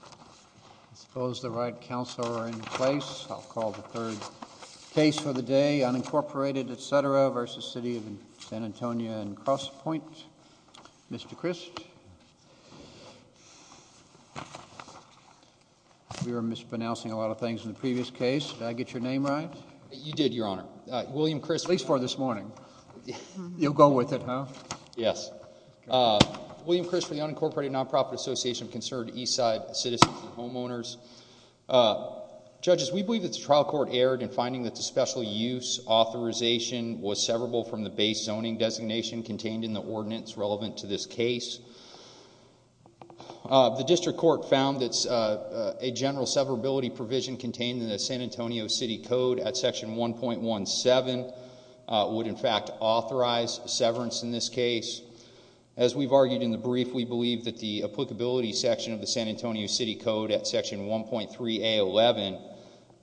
I suppose the right counsel are in place. I'll call the third case for the day, Unincorporated, etc. v. City of San Antonio and Crosspoint. Mr. Crist. We were mispronouncing a lot of things in the previous case. Did I get your name right? You did, Your Honor. William Crist. At least for this morning. You'll go with it, huh? Yes. William Crist for the Unincorporated Non-Profit Association of Concerned Eastside Citizens and Homeowners. Judges, we believe that the trial court erred in finding that the special use authorization was severable from the base zoning designation contained in the ordinance relevant to this case. The district court found that a general severability provision contained in the San Antonio City Code at Section 1.17 would in fact authorize severance in this case. As we've argued in the brief, we believe that the applicability section of the San Antonio City Code at Section 1.3A11,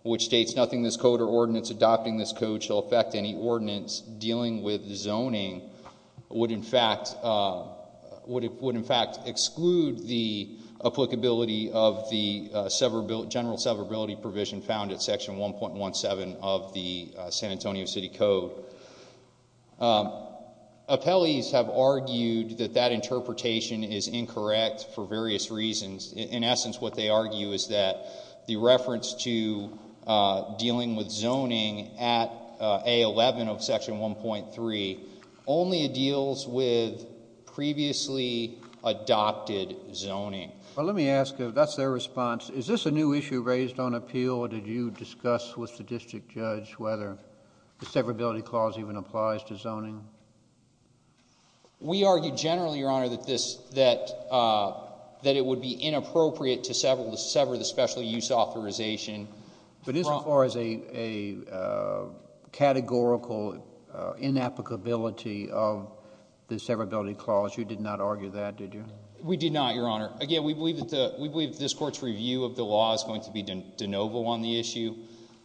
which states nothing in this code or ordinance adopting this code shall affect any ordinance dealing with zoning, would in fact exclude the applicability of the general severability provision found at Section 1.17 of the San Antonio City Code. Appellees have argued that that interpretation is incorrect for various reasons. In essence, what they argue is that the reference to dealing with zoning at A11 of Section 1.3 only deals with previously adopted zoning. Well, let me ask, if that's their response, is this a new issue raised on appeal or did you discuss with the district judge whether the severability clause even applies to zoning? We argued generally, Your Honor, that it would be inappropriate to sever the special use authorization. But as far as a categorical inapplicability of the severability clause, you did not argue that, did you? We did not, Your Honor. Again, we believe that this court's review of the law is going to be de novo on the issue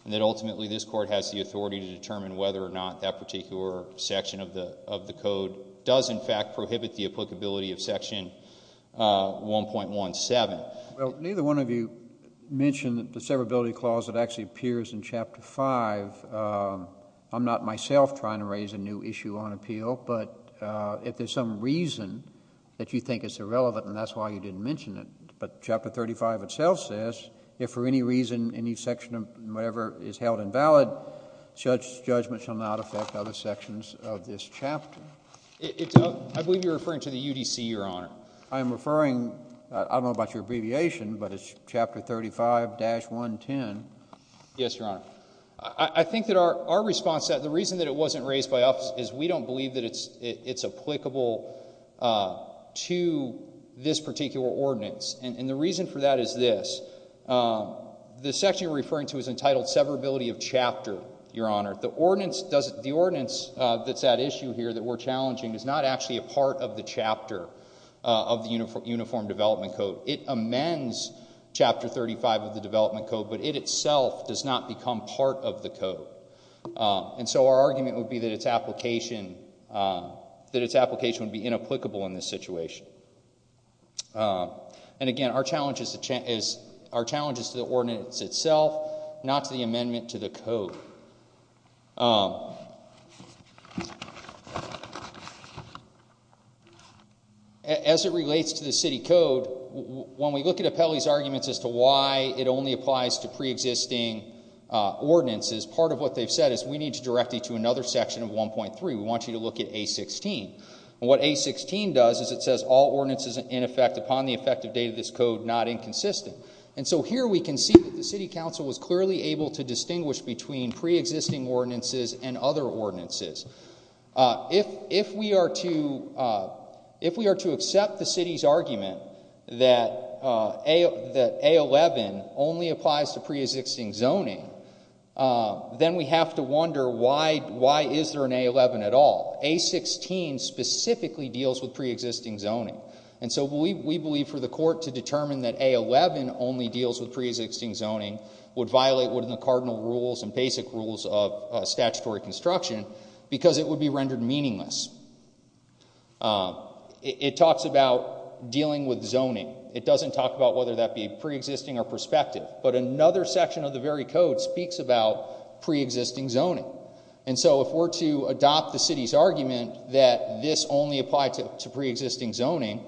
and that ultimately this court has the authority to determine whether or not that particular section of the code does in fact prohibit the applicability of Section 1.17. Well, neither one of you mentioned the severability clause that actually appears in Chapter 5. I'm not myself trying to raise a new issue on appeal, but if there's some reason that you think it's irrelevant and that's why you didn't mention it. But Chapter 35 itself says, if for any reason any section of whatever is held invalid, judgment shall not affect other sections of this chapter. I believe you're referring to the UDC, Your Honor. I am referring, I don't know about your abbreviation, but it's Chapter 35-110. Yes, Your Honor. I think that our response to that, the reason that it wasn't raised by us is we don't believe that it's applicable to this particular ordinance. And the reason for that is this. The section you're referring to is entitled severability of chapter, Your Honor. The ordinance that's at issue here that we're challenging is not actually a part of the chapter of the Uniform Development Code. It amends Chapter 35 of the Development Code, but it itself does not become part of the code. And so our argument would be that its application would be inapplicable in this situation. And again, our challenge is to the ordinance itself, not to the amendment to the code. As it relates to the city code, when we look at Apelli's arguments as to why it only applies to preexisting ordinances, part of what they've said is we need to direct you to another section of 1.3. We want you to look at A16. And what A16 does is it says all ordinances in effect upon the effective date of this code not inconsistent. And so here we can see that the city council was clearly able to distinguish between preexisting ordinances and other ordinances. If we are to accept the city's argument that A11 only applies to preexisting zoning, then we have to wonder why is there an A11 at all? A16 specifically deals with preexisting zoning. And so we believe for the court to determine that A11 only deals with preexisting zoning would violate what are the cardinal rules and basic rules of statutory construction because it would be rendered meaningless. It talks about dealing with zoning. It doesn't talk about whether that be preexisting or prospective. But another section of the very code speaks about preexisting zoning. And so if we're to adopt the city's argument that this only applies to preexisting zoning,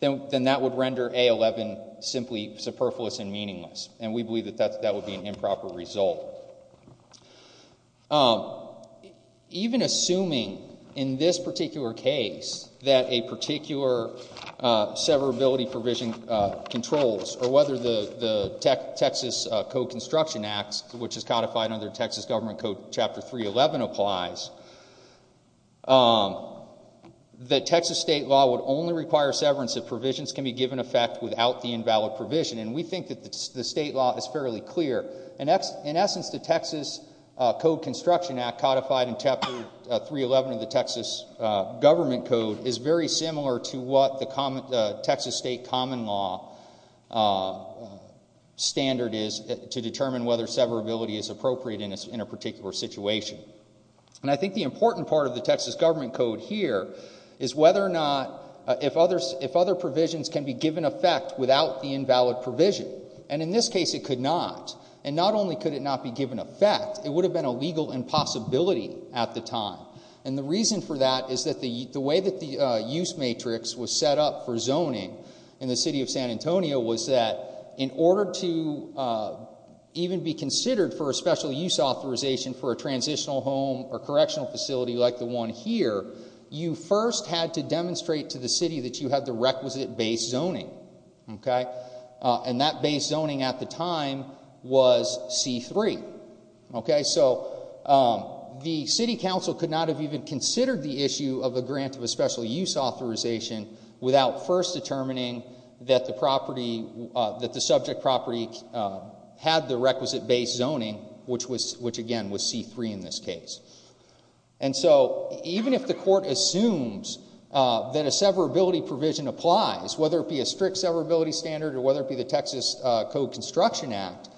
then that would render A11 simply superfluous and meaningless. And we believe that that would be an improper result. Even assuming in this particular case that a particular severability provision controls or whether the Texas Code Construction Act, which is codified under Texas Government Code Chapter 311, applies, that Texas state law would only require severance if provisions can be given effect without the invalid provision. And we think that the state law is fairly clear. In essence, the Texas Code Construction Act codified in Chapter 311 of the Texas Government Code is very similar to what the Texas state common law standard is to determine whether severability is appropriate in a particular situation. And I think the important part of the Texas Government Code here is whether or not if other provisions can be given effect without the invalid provision. And in this case it could not. And not only could it not be given effect, it would have been a legal impossibility at the time. And the reason for that is that the way that the use matrix was set up for zoning in the city of San Antonio was that in order to even be considered for a special use authorization for a transitional home or correctional facility like the one here, you first had to demonstrate to the city that you had the requisite base zoning. And that base zoning at the time was C-3. So the city council could not have even considered the issue of a grant of a special use authorization without first determining that the subject property had the requisite base zoning, which again was C-3 in this case. And so even if the court assumes that a severability provision applies, whether it be a strict severability standard or whether it be the Texas Code Construction Act,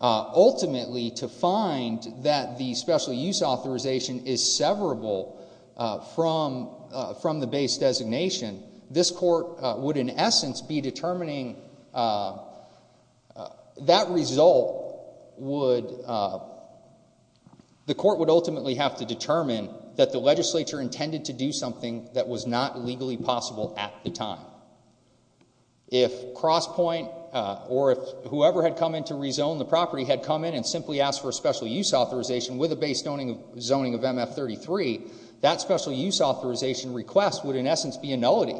ultimately to find that the special use authorization is severable from the base designation, this court would in essence be determining, that result would, the court would ultimately have to determine that the legislature intended to do something that was not legally possible at the time. If Crosspoint or whoever had come in to rezone the property had come in and simply asked for a special use authorization with a base zoning of MF-33, that special use authorization request would in essence be a nullity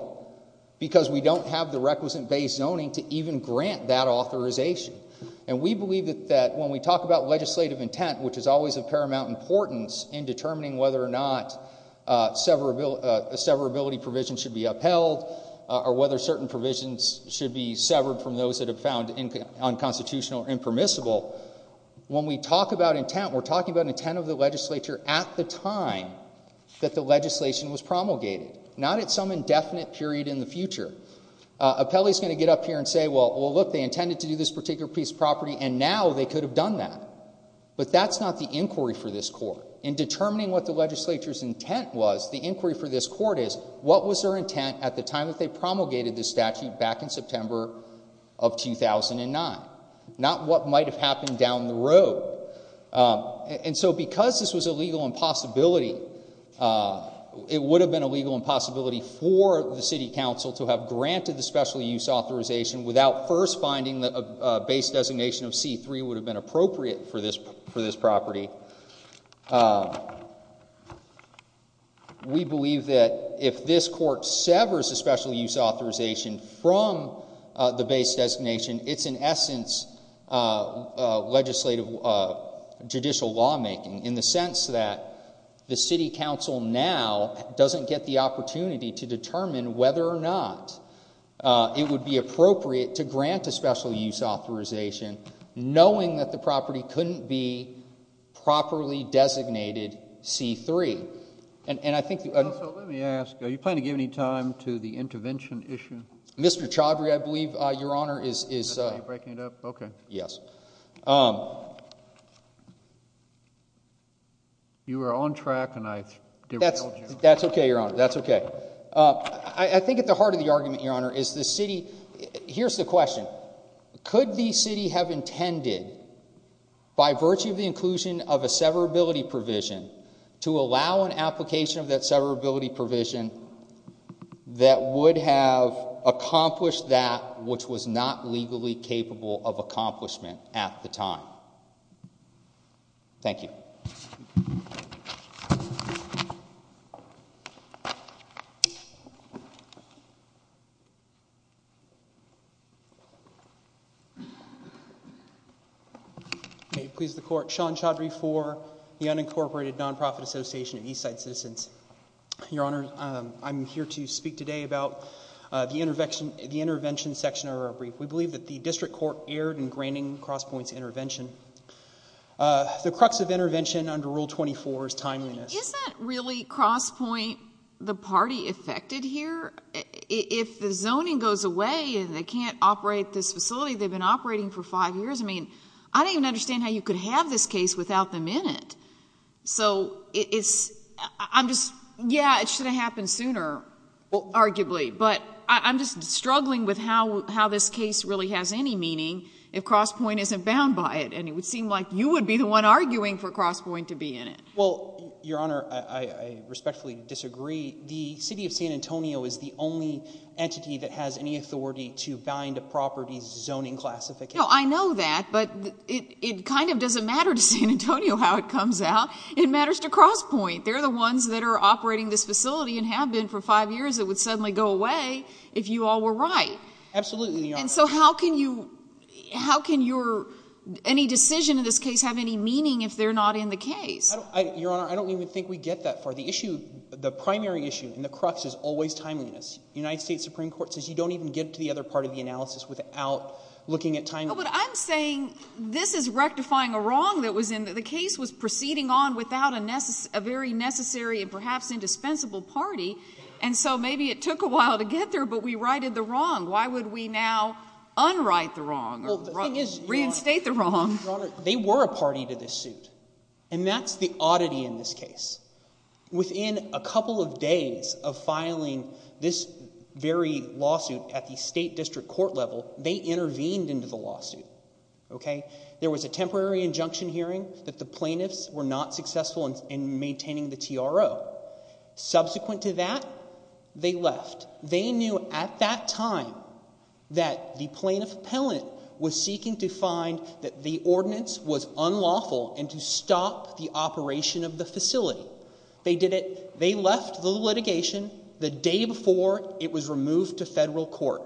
because we don't have the requisite base zoning to even grant that authorization. And we believe that when we talk about legislative intent, which is always of paramount importance in determining whether or not a severability provision should be upheld, or whether certain provisions should be severed from those that are found unconstitutional or impermissible, when we talk about intent, we're talking about intent of the legislature at the time that the legislation was promulgated, not at some indefinite period in the future. Appellee is going to get up here and say, well look, they intended to do this particular piece of property and now they could have done that. But that's not the inquiry for this court. In determining what the legislature's intent was, the inquiry for this court is, what was their intent at the time that they promulgated this statute back in September of 2009? Not what might have happened down the road. And so because this was a legal impossibility, it would have been a legal impossibility for the city council to have granted the special use authorization without first finding that a base designation of C-3 would have been appropriate for this property. We believe that if this court severs the special use authorization from the base designation, it's in essence legislative judicial lawmaking in the sense that the city council now doesn't get the opportunity to determine whether or not it would be appropriate to grant a special use authorization knowing that the property couldn't be properly designated C-3. And I think... So let me ask, are you planning to give any time to the intervention issue? Mr. Chaudhry, I believe, Your Honor, is... Is that how you're breaking it up? Okay. Yes. You were on track and I derailed you. That's okay, Your Honor. That's okay. I think at the heart of the argument, Your Honor, is the city... Here's the question. Could the city have intended, by virtue of the inclusion of a severability provision, to allow an application of that severability provision that would have accomplished that which was not legally capable of accomplishment at the time? Thank you. Thank you. May it please the Court, Sean Chaudhry for the Unincorporated Nonprofit Association of Eastside Citizens. Your Honor, I'm here to speak today about the intervention section of our brief. We believe that the district court erred in granting Crosspoint's intervention. The crux of intervention under Rule 24 is timeliness. Isn't really Crosspoint the party affected here? If the zoning goes away and they can't operate this facility, they've been operating for five years. I mean, I don't even understand how you could have this case without them in it. So it's... I'm just... Yeah, it should have happened sooner, arguably. But I'm just struggling with how this case really has any meaning if Crosspoint isn't bound by it. And it would seem like you would be the one arguing for Crosspoint to be in it. Well, Your Honor, I respectfully disagree. The city of San Antonio is the only entity that has any authority to bind a property's zoning classification. No, I know that, but it kind of doesn't matter to San Antonio how it comes out. It matters to Crosspoint. They're the ones that are operating this facility and have been for five years. It would suddenly go away if you all were right. Absolutely, Your Honor. And so how can you... how can your... any decision in this case have any meaning if they're not in the case? Your Honor, I don't even think we get that far. The issue... the primary issue and the crux is always timeliness. The United States Supreme Court says you don't even get to the other part of the analysis without looking at timeliness. But I'm saying this is rectifying a wrong that was in... that the case was proceeding on without a very necessary and perhaps indispensable party. And so maybe it took a while to get there, but we righted the wrong. Why would we now unright the wrong or reinstate the wrong? Your Honor, they were a party to this suit, and that's the oddity in this case. Within a couple of days of filing this very lawsuit at the state district court level, they intervened into the lawsuit. There was a temporary injunction hearing that the plaintiffs were not successful in maintaining the TRO. Subsequent to that, they left. They knew at that time that the plaintiff appellant was seeking to find that the ordinance was unlawful and to stop the operation of the facility. They did it. They left the litigation the day before it was removed to federal court.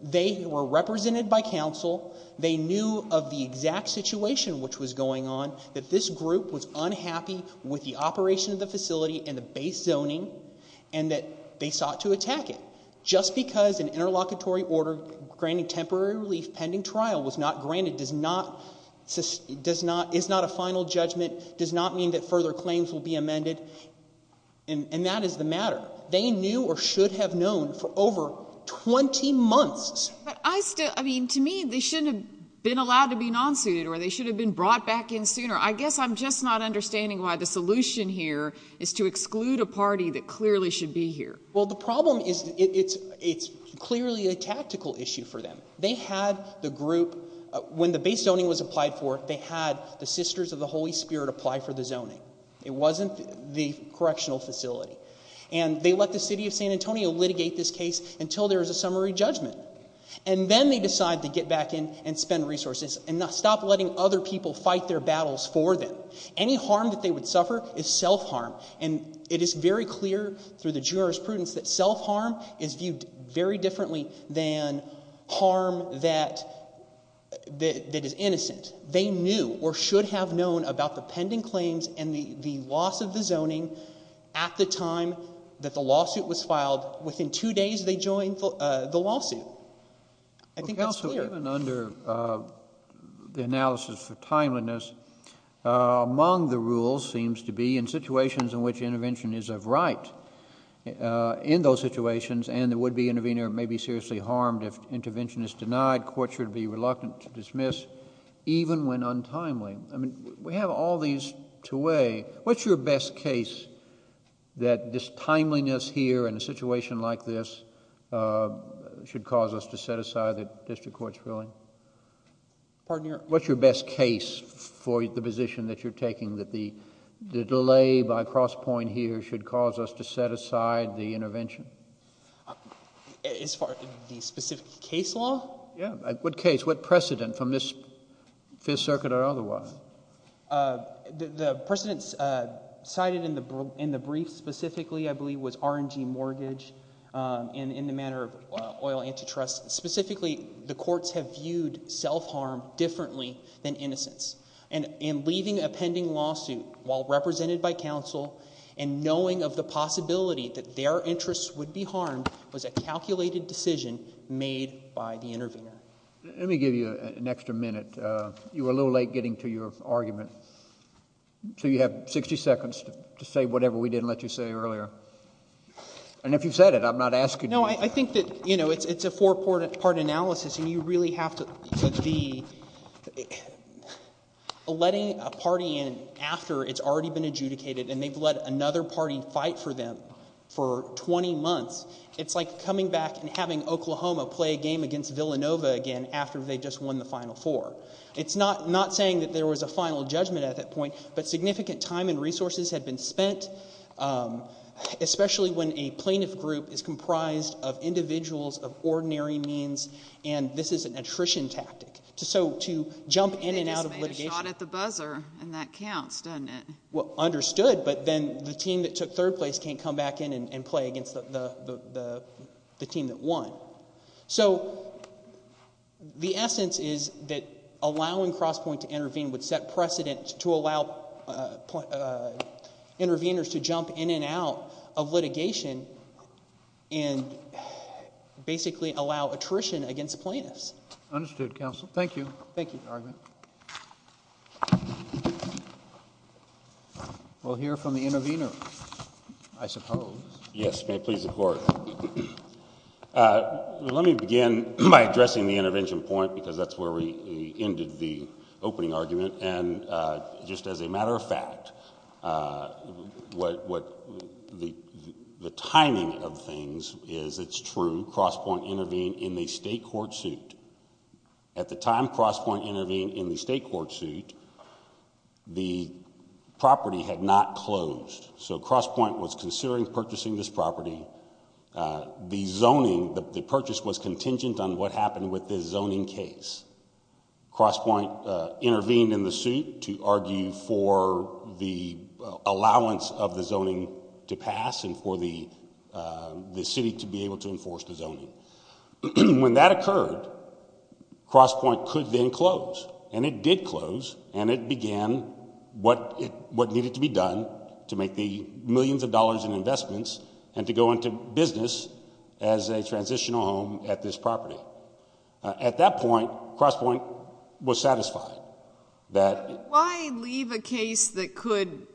They were represented by counsel. They knew of the exact situation which was going on, that this group was unhappy with the operation of the facility and the base zoning and that they sought to attack it. Just because an interlocutory order granting temporary relief pending trial was not granted is not a final judgment, does not mean that further claims will be amended, and that is the matter. They knew or should have known for over 20 months. But I still – I mean, to me, they shouldn't have been allowed to be non-suited or they should have been brought back in sooner. I guess I'm just not understanding why the solution here is to exclude a party that clearly should be here. Well, the problem is it's clearly a tactical issue for them. They had the group – when the base zoning was applied for, they had the Sisters of the Holy Spirit apply for the zoning. It wasn't the correctional facility. And they let the city of San Antonio litigate this case until there was a summary judgment. And then they decided to get back in and spend resources and stop letting other people fight their battles for them. Any harm that they would suffer is self-harm. And it is very clear through the jurisprudence that self-harm is viewed very differently than harm that is innocent. They knew or should have known about the pending claims and the loss of the zoning at the time that the lawsuit was filed. Within two days, they joined the lawsuit. I think that's clear. Counsel, even under the analysis for timeliness, among the rules seems to be in situations in which intervention is of right. In those situations, and the would-be intervener may be seriously harmed if intervention is denied, court should be reluctant to dismiss even when untimely. I mean, we have all these to weigh. What's your best case that this timeliness here in a situation like this should cause us to set aside the district court's ruling? Pardon your? What's your best case for the position that you're taking that the delay by cross point here should cause us to set aside the intervention? As far as the specific case law? Yeah. What case? What precedent from this Fifth Circuit or otherwise? The precedent cited in the brief specifically, I believe, was R&G Mortgage in the matter of oil antitrust. Specifically, the courts have viewed self-harm differently than innocence. And in leaving a pending lawsuit while represented by counsel and knowing of the possibility that their interests would be harmed was a calculated decision made by the intervener. Let me give you an extra minute. You were a little late getting to your argument. So you have 60 seconds to say whatever we didn't let you say earlier. And if you've said it, I'm not asking you. No, I think that it's a four-part analysis, and you really have to be letting a party in after it's already been adjudicated, and they've let another party fight for them for 20 months. It's like coming back and having Oklahoma play a game against Villanova again after they just won the Final Four. It's not saying that there was a final judgment at that point, but significant time and resources had been spent, especially when a plaintiff group is comprised of individuals of ordinary means, and this is an attrition tactic. So to jump in and out of litigation. They just made a shot at the buzzer, and that counts, doesn't it? Well, understood, but then the team that took third place can't come back in and play against the team that won. So the essence is that allowing Crosspoint to intervene would set precedent to allow interveners to jump in and out of litigation and basically allow attrition against plaintiffs. Understood, counsel. Thank you. Thank you. We'll hear from the intervener, I suppose. Yes, may it please the Court. Let me begin by addressing the intervention point because that's where we ended the opening argument, and just as a matter of fact, the timing of things is it's true Crosspoint intervened in the state court suit. At the time Crosspoint intervened in the state court suit, the property had not closed. So Crosspoint was considering purchasing this property. The zoning, the purchase was contingent on what happened with the zoning case. Crosspoint intervened in the suit to argue for the allowance of the zoning to pass and for the city to be able to enforce the zoning. When that occurred, Crosspoint could then close, and it did close, and it began what needed to be done to make the millions of dollars in investments and to go into business as a transitional home at this property. At that point, Crosspoint was satisfied. Why leave a case that could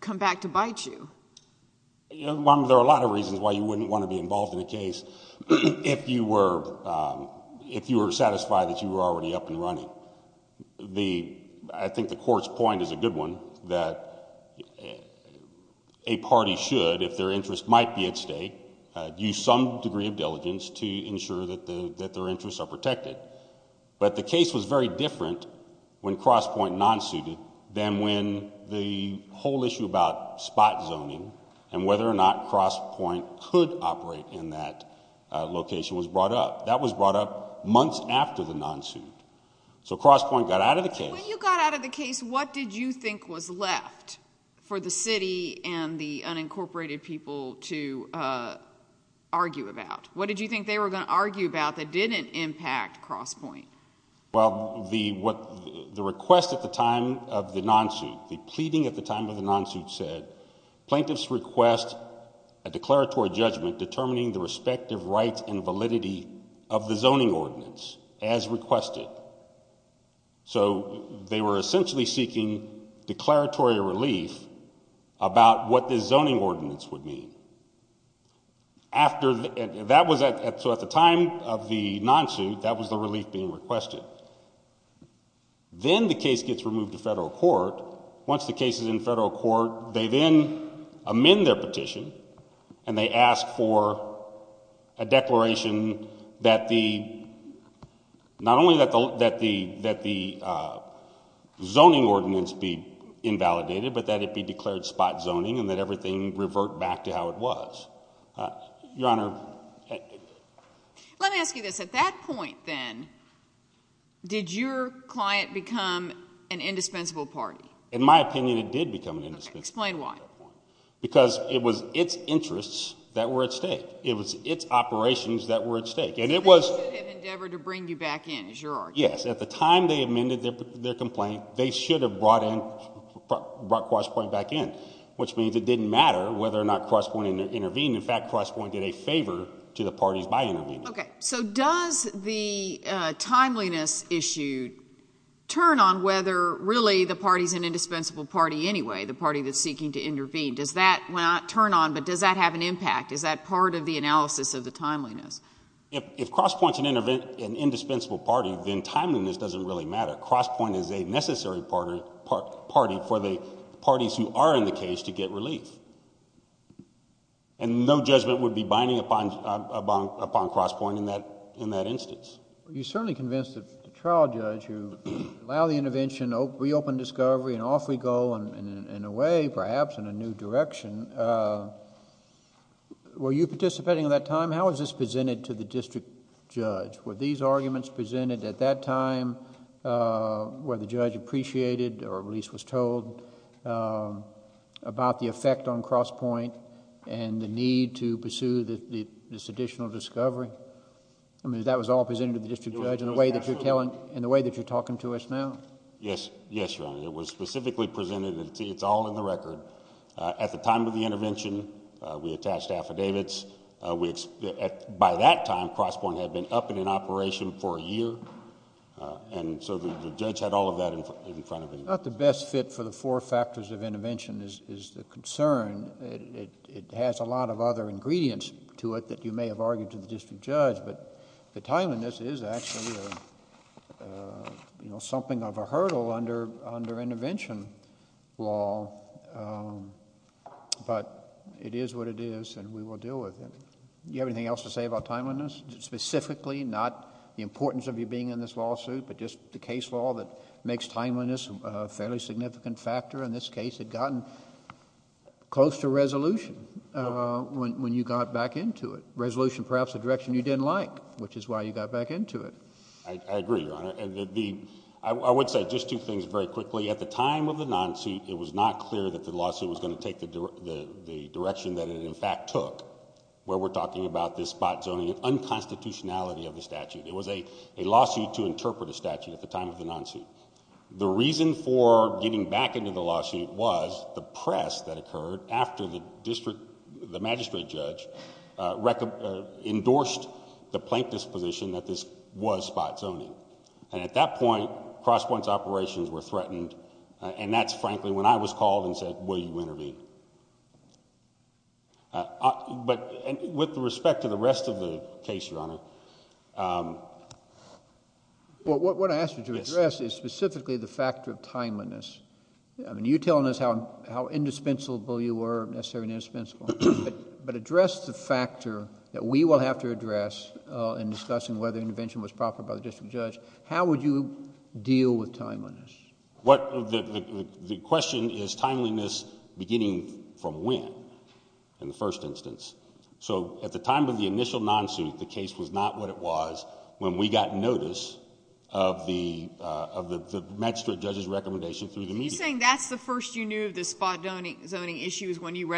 come back to bite you? There are a lot of reasons why you wouldn't want to be involved in a case if you were satisfied that you were already up and running. I think the Court's point is a good one, that a party should, if their interest might be at stake, use some degree of diligence to ensure that their interests are protected. But the case was very different when Crosspoint non-suited than when the whole issue about spot zoning and whether or not Crosspoint could operate in that location was brought up. That was brought up months after the non-suit. So Crosspoint got out of the case. When you got out of the case, what did you think was left for the city and the unincorporated people to argue about? What did you think they were going to argue about that didn't impact Crosspoint? Well, the request at the time of the non-suit, the pleading at the time of the non-suit said, Plaintiffs request a declaratory judgment determining the respective rights and validity of the zoning ordinance as requested. So they were essentially seeking declaratory relief about what the zoning ordinance would mean. So at the time of the non-suit, that was the relief being requested. Then the case gets removed to federal court. Once the case is in federal court, they then amend their petition and they ask for a declaration that the zoning ordinance be invalidated but that it be declared spot zoning and that everything revert back to how it was. Your Honor. Let me ask you this. At that point then, did your client become an indispensable party? In my opinion, it did become an indispensable party. Explain why. Because it was its interests that were at stake. It was its operations that were at stake. So they did endeavor to bring you back in, is your argument? Yes. At the time they amended their complaint, they should have brought Crosspoint back in, which means it didn't matter whether or not Crosspoint intervened. In fact, Crosspoint did a favor to the parties by intervening. Okay. So does the timeliness issue turn on whether really the party's an indispensable party anyway, the party that's seeking to intervene? Does that turn on, but does that have an impact? Is that part of the analysis of the timeliness? If Crosspoint's an indispensable party, then timeliness doesn't really matter. Crosspoint is a necessary party for the parties who are in the case to get relief. No judgment would be binding upon Crosspoint in that instance. You certainly convinced the trial judge to allow the intervention, reopen discovery, and off we go in a way, perhaps in a new direction. Were you participating at that time? How was this presented to the district judge? Were these arguments presented at that time where the judge appreciated or at least was told about the effect on Crosspoint and the need to pursue this additional discovery? I mean, that was all presented to the district judge in the way that you're talking to us now. Yes, Your Honor. It was specifically presented. It's all in the record. At the time of the intervention, we attached affidavits. By that time, Crosspoint had been up and in operation for a year, and so the judge had all of that in front of him. Not the best fit for the four factors of intervention is the concern. It has a lot of other ingredients to it that you may have argued to the district judge, but the timeliness is actually something of a hurdle under intervention law, but it is what it is, and we will deal with it. Do you have anything else to say about timeliness? Specifically, not the importance of you being in this lawsuit, but just the case law that makes timeliness a fairly significant factor in this case. It had gotten close to resolution when you got back into it, resolution perhaps a direction you didn't like, which is why you got back into it. I agree, Your Honor. I would say just two things very quickly. At the time of the non-suit, it was not clear that the lawsuit was going to take the direction that it in fact took, where we're talking about this spot zoning and unconstitutionality of the statute. It was a lawsuit to interpret a statute at the time of the non-suit. The reason for getting back into the lawsuit was the press that occurred after the magistrate judge endorsed the plaintiff's position that this was spot zoning, and at that point, cross points operations were threatened, and that's frankly when I was called and said, will you intervene? With respect to the rest of the case, Your Honor... What I asked you to address is specifically the factor of timeliness. You're telling us how indispensable you were, necessary and indispensable, but address the factor that we will have to address in discussing whether the district judge... how would you deal with timeliness? The question is timeliness beginning from when in the first instance. At the time of the initial non-suit, the case was not what it was when we got notice of the magistrate judge's recommendation through the media. So you're saying that's the first you knew of the spot zoning issues when your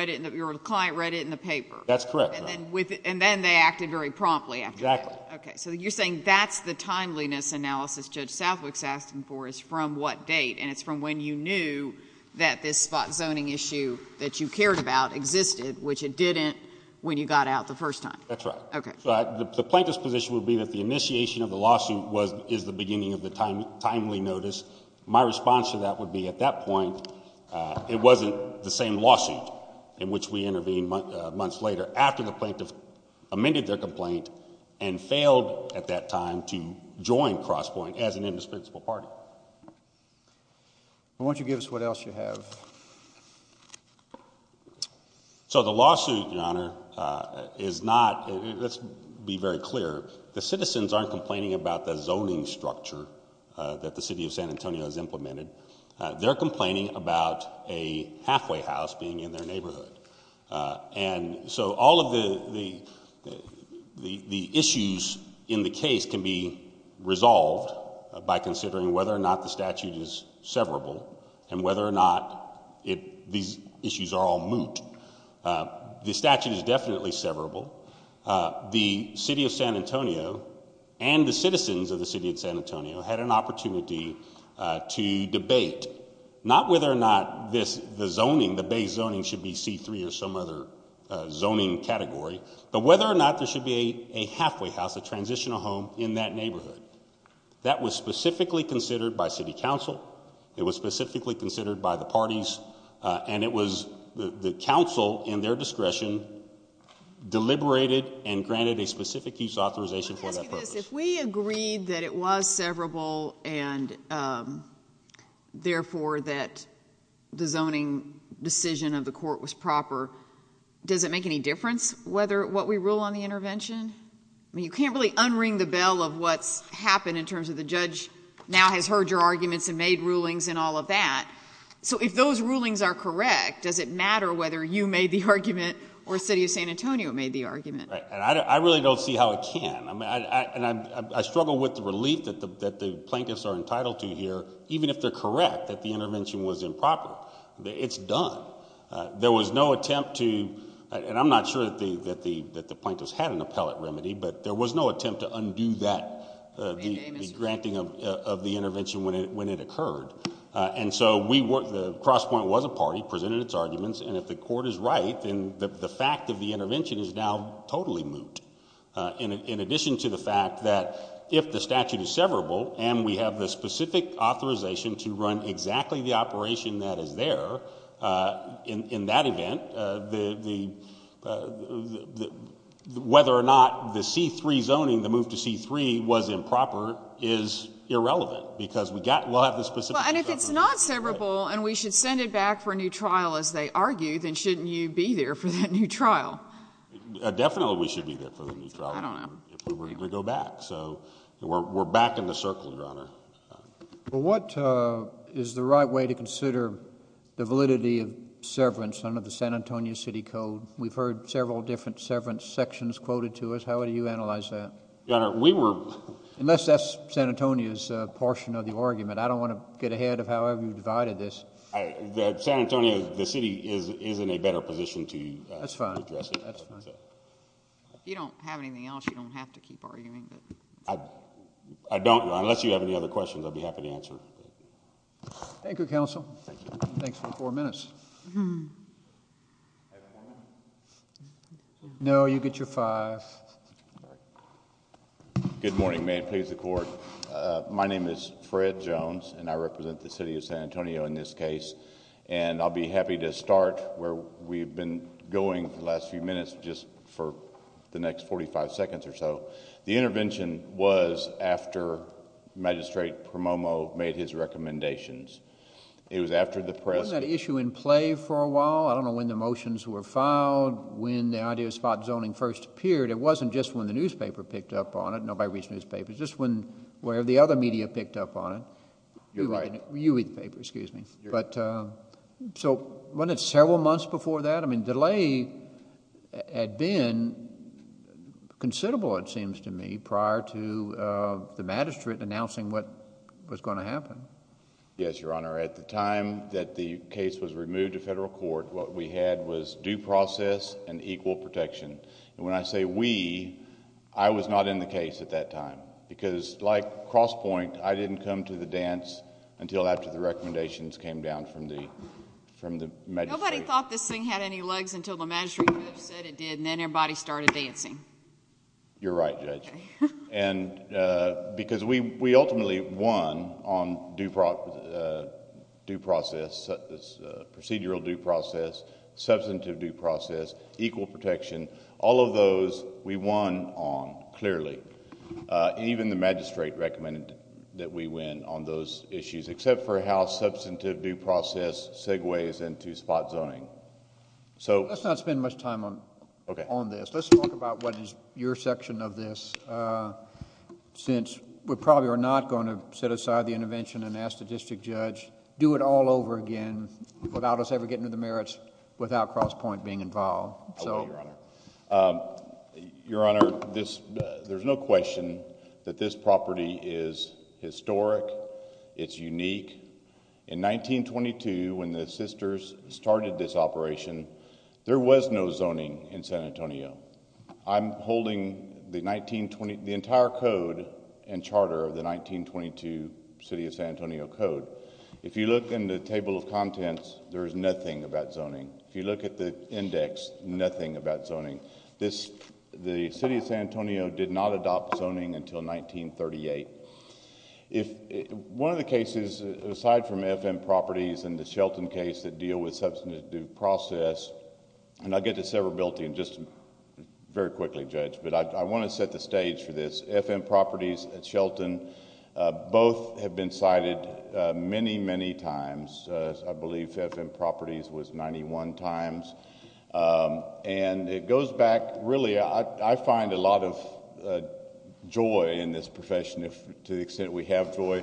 client read it in the paper? That's correct, Your Honor. Then they acted very promptly after that? Exactly. Okay, so you're saying that's the timeliness analysis Judge Southwick's asking for is from what date, and it's from when you knew that this spot zoning issue that you cared about existed, which it didn't when you got out the first time? That's right. Okay. The plaintiff's position would be that the initiation of the lawsuit is the beginning of the timely notice. My response to that would be at that point, it wasn't the same lawsuit in which we intervened months later after the plaintiff amended their complaint and failed at that time to join Crosspoint as an indispensable party. Why don't you give us what else you have? So the lawsuit, Your Honor, is not, let's be very clear, the citizens aren't complaining about the zoning structure that the City of San Antonio has implemented. They're complaining about a halfway house being in their neighborhood. And so all of the issues in the case can be resolved by considering whether or not the statute is severable and whether or not these issues are all moot. The statute is definitely severable. The City of San Antonio and the citizens of the City of San Antonio had an opportunity to debate not whether or not the zoning, the base zoning should be C-3 or some other zoning category, but whether or not there should be a halfway house, a transitional home in that neighborhood. That was specifically considered by City Council. It was specifically considered by the parties. And it was the Council, in their discretion, deliberated and granted a specific use authorization for that purpose. Let me ask you this. If we agreed that it was severable and therefore that the zoning decision of the court was proper, does it make any difference what we rule on the intervention? I mean, you can't really unring the bell of what's happened in terms of the judge now has heard your arguments and made rulings and all of that. So if those rulings are correct, does it matter whether you made the argument or the City of San Antonio made the argument? I really don't see how it can. I struggle with the relief that the plaintiffs are entitled to here, even if they're correct that the intervention was improper. It's done. There was no attempt to, and I'm not sure that the plaintiffs had an appellate remedy, but there was no attempt to undo that, the granting of the intervention when it occurred. And so the cross point was a party, presented its arguments, and if the court is right, then the fact of the intervention is now totally moot. In addition to the fact that if the statute is severable and we have the specific authorization to run exactly the operation that is there, in that event, whether or not the C-3 zoning, the move to C-3 was improper, is irrelevant because we'll have the specific authorization. And if it's not severable and we should send it back for a new trial, as they argue, then shouldn't you be there for that new trial? Definitely we should be there for the new trial if we were to go back. So we're back in the circle, Your Honor. Well, what is the right way to consider the validity of severance under the San Antonio City Code? We've heard several different severance sections quoted to us. How would you analyze that? Your Honor, we were... Unless that's San Antonio's portion of the argument. I don't want to get ahead of however you divided this. San Antonio, the city, is in a better position to address that. That's right. If you don't have anything else, you don't have to keep arguing. I don't, Your Honor. Unless you have any other questions, I'd be happy to answer. Thank you, Counsel. Thank you. Thanks for the four minutes. I have four minutes? No, you get your five. Good morning. May it please the Court. My name is Fred Jones, and I represent the city of San Antonio in this case. And I'll be happy to start where we've been going the last few minutes just for the next 45 seconds or so. The intervention was after Magistrate Promomo made his recommendations. It was after the press... Wasn't that issue in play for a while? I don't know when the motions were filed, when the idea of spot zoning first appeared. It wasn't just when the newspaper picked up on it. Nobody reads newspapers. Just when the other media picked up on it. You're right. You read the paper, excuse me. So, wasn't it several months before that? I mean, delay had been considerable, it seems to me, prior to the magistrate announcing what was going to happen. Yes, Your Honor. At the time that the case was removed to federal court, what we had was due process and equal protection. And when I say we, I was not in the case at that time. Because like Crosspoint, I didn't come to the dance until after the recommendations came down from the magistrate. Nobody thought this thing had any legs until the magistrate said it did, and then everybody started dancing. You're right, Judge. Because we ultimately won on procedural due process, substantive due process, equal protection. All of those we won on, clearly. Even the magistrate recommended that we win on those issues, except for how substantive due process segues into spot zoning. Let's not spend much time on this. Let's talk about what is your section of this, since we probably are not going to set aside the intervention and ask the district judge, do it all over again, without us ever getting to the merits, without Crosspoint being involved. Okay, Your Honor. Your Honor, there's no question that this property is historic. It's unique. In 1922, when the sisters started this operation, there was no zoning in San Antonio. I'm holding the entire code and charter of the 1922 City of San Antonio Code. If you look in the table of contents, there is nothing about zoning. If you look at the index, nothing about zoning. The City of San Antonio did not adopt zoning until 1938. One of the cases, aside from FM Properties and the Shelton case that deal with substantive due process, and I'll get to severability very quickly, Judge, but I want to set the stage for this. FM Properties and Shelton both have been cited many, many times. I believe FM Properties was 91 times. It goes back, really, I find a lot of joy in this profession, to the extent we have joy,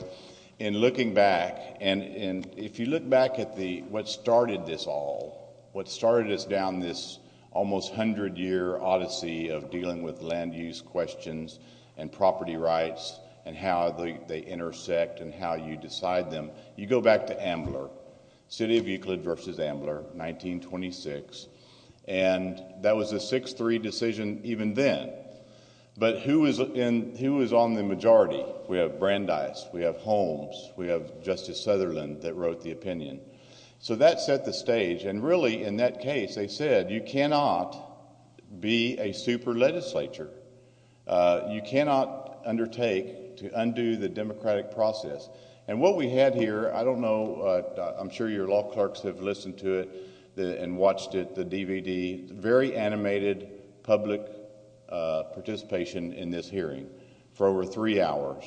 in looking back. If you look back at what started this all, what started us down this almost 100-year odyssey of dealing with land use questions and property rights and how they intersect and how you decide them, you go back to Ambler, City of Euclid v. Ambler, 1926, and that was a 6-3 decision even then. But who was on the majority? We have Brandeis, we have Holmes, we have Justice Sutherland that wrote the opinion. So that set the stage, and really, in that case, they said, you cannot be a super legislature. You cannot undertake to undo the democratic process. And what we had here, I don't know, I'm sure your law clerks have listened to it and watched it, the DVD. Very animated public participation in this hearing for over three hours.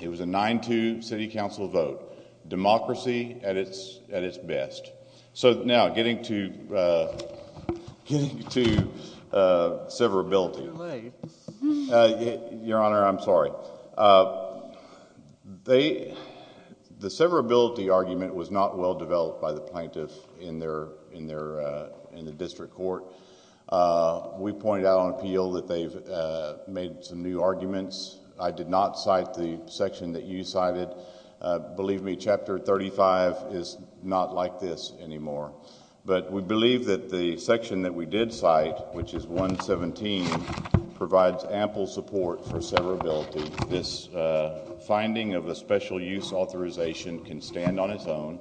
It was a 9-2 city council vote. Democracy at its best. So now, getting to severability. Your Honor, I'm sorry. The severability argument was not well developed by the plaintiff in the district court. We pointed out on appeal that they've made some new arguments. I did not cite the section that you cited. Believe me, Chapter 35 is not like this anymore. But we believe that the section that we did cite, which is 117, provides ample support for severability. This finding of a special use authorization can stand on its own.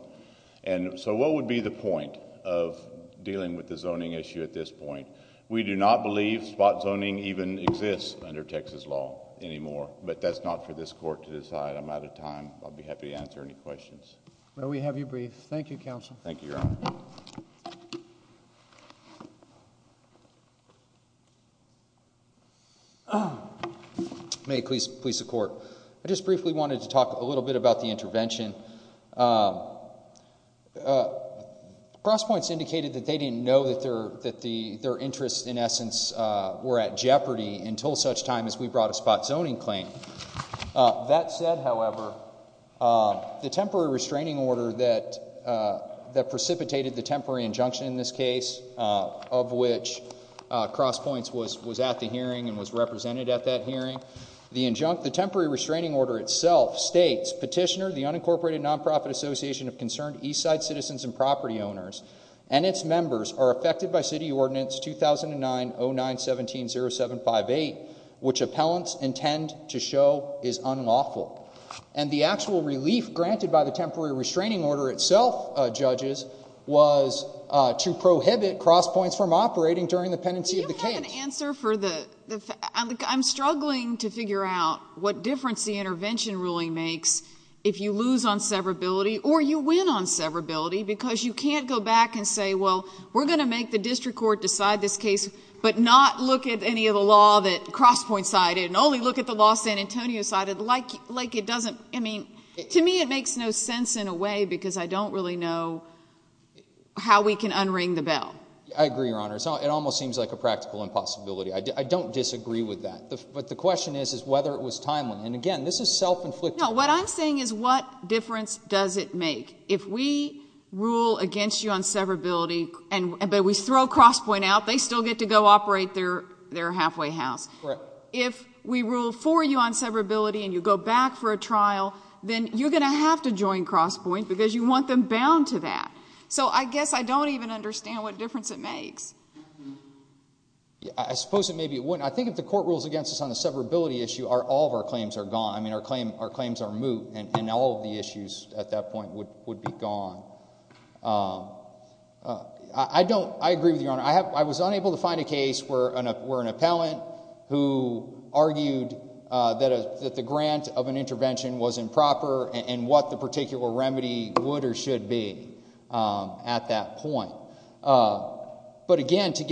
So what would be the point of dealing with the zoning issue at this point? We do not believe spot zoning even exists under Texas law anymore. But that's not for this court to decide. I'm out of time. I'll be happy to answer any questions. Well, we have you briefed. Thank you, counsel. Thank you, Your Honor. May it please the court. I just briefly wanted to talk a little bit about the intervention. Cross points indicated that they didn't know that their interests, in essence, were at jeopardy until such time as we brought a spot zoning claim. That said, however, the temporary restraining order that precipitated the temporary injunction in this case, of which cross points was at the hearing and was represented at that hearing, the temporary restraining order itself states, Petitioner, the Unincorporated Nonprofit Association of Concerned Eastside Citizens and Property Owners, and its members are affected by City Ordinance 2009-09-17-0758, which appellants intend to show is unlawful. And the actual relief granted by the temporary restraining order itself, judges, was to prohibit cross points from operating during the pendency of the case. Do you have an answer for the – I'm struggling to figure out what difference the intervention ruling makes if you lose on severability or you win on severability because you can't go back and say, well, we're going to make the district court decide this case but not look at any of the law that cross points cited and only look at the law San Antonio cited? Like it doesn't – I mean, to me it makes no sense in a way because I don't really know how we can unring the bell. I agree, Your Honor. It almost seems like a practical impossibility. I don't disagree with that. But the question is whether it was timely. And again, this is self-inflicted. No, what I'm saying is what difference does it make if we rule against you on severability but we throw cross point out, they still get to go operate their halfway house. Correct. If we rule for you on severability and you go back for a trial, then you're going to have to join cross point because you want them bound to that. So I guess I don't even understand what difference it makes. I suppose it may be a win. I think if the court rules against us on the severability issue, all of our claims are gone. I mean, our claims are moot and all of the issues at that point would be gone. I don't – I agree with you, Your Honor. I was unable to find a case where an appellant who argued that the grant of an intervention was improper and what the particular remedy would or should be at that point. But, again, to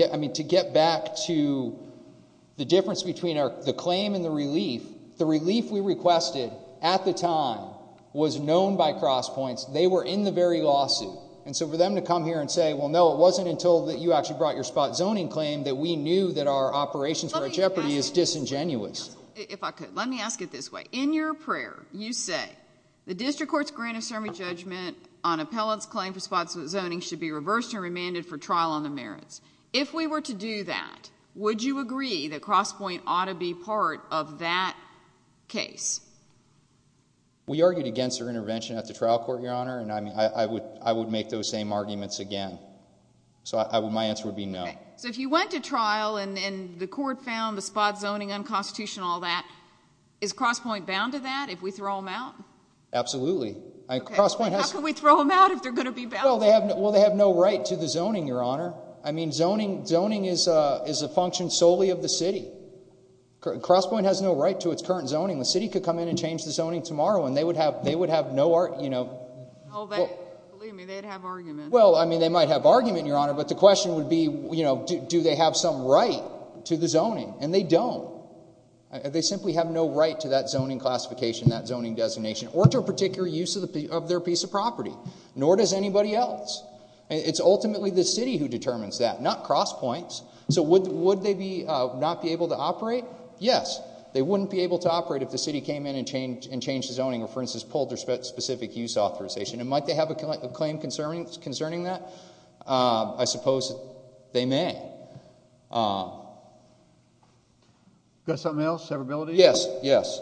get back to the difference between the claim and the relief, the relief we requested at the time was known by cross points. They were in the very lawsuit. And so for them to come here and say, well, no, it wasn't until that you actually brought your spot zoning claim that we knew that our operations were at jeopardy is disingenuous. If I could, let me ask it this way. In your prayer, you say the district court's grant of summary judgment on appellant's claim for spot zoning should be reversed and remanded for trial on the merits. If we were to do that, would you agree that cross point ought to be part of that case? We argued against their intervention at the trial court, Your Honor, and I would make those same arguments again. So my answer would be no. So if you went to trial and the court found the spot zoning unconstitutional and all that, is cross point bound to that if we throw them out? Absolutely. How can we throw them out if they're going to be bound? Well, they have no right to the zoning, Your Honor. I mean zoning is a function solely of the city. Cross point has no right to its current zoning. The city could come in and change the zoning tomorrow and they would have no argument. Believe me, they'd have argument. Well, I mean they might have argument, Your Honor, but the question would be do they have some right to the zoning, and they don't. They simply have no right to that zoning classification, that zoning designation, or to a particular use of their piece of property, nor does anybody else. It's ultimately the city who determines that, not cross points. So would they not be able to operate? Yes. They wouldn't be able to operate if the city came in and changed the zoning or, for instance, pulled their specific use authorization. And might they have a claim concerning that? I suppose they may. Got something else? Severability? Yes, yes.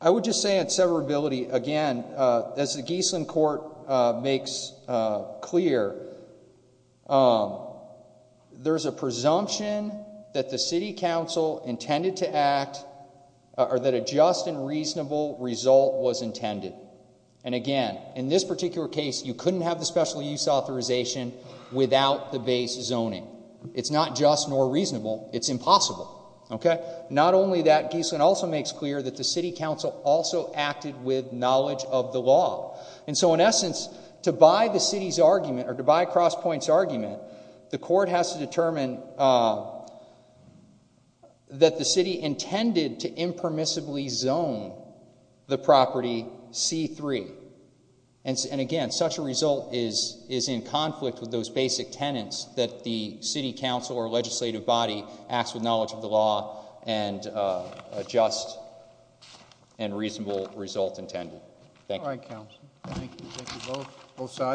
I would just say on severability, again, as the Geisling Court makes clear, there's a presumption that the city council intended to act, or that a just and reasonable result was intended. And, again, in this particular case, you couldn't have the special use authorization without the base zoning. It's not just nor reasonable. It's impossible. Not only that, Geisling also makes clear that the city council also acted with knowledge of the law. And so, in essence, to buy the city's argument, or to buy cross points' argument, the court has to determine that the city intended to impermissibly zone the property C3. And, again, such a result is in conflict with those basic tenants that the city council or legislative body acts with knowledge of the law and a just and reasonable result intended. Thank you. All right, counsel. Thank you. Thank you both. Both sides.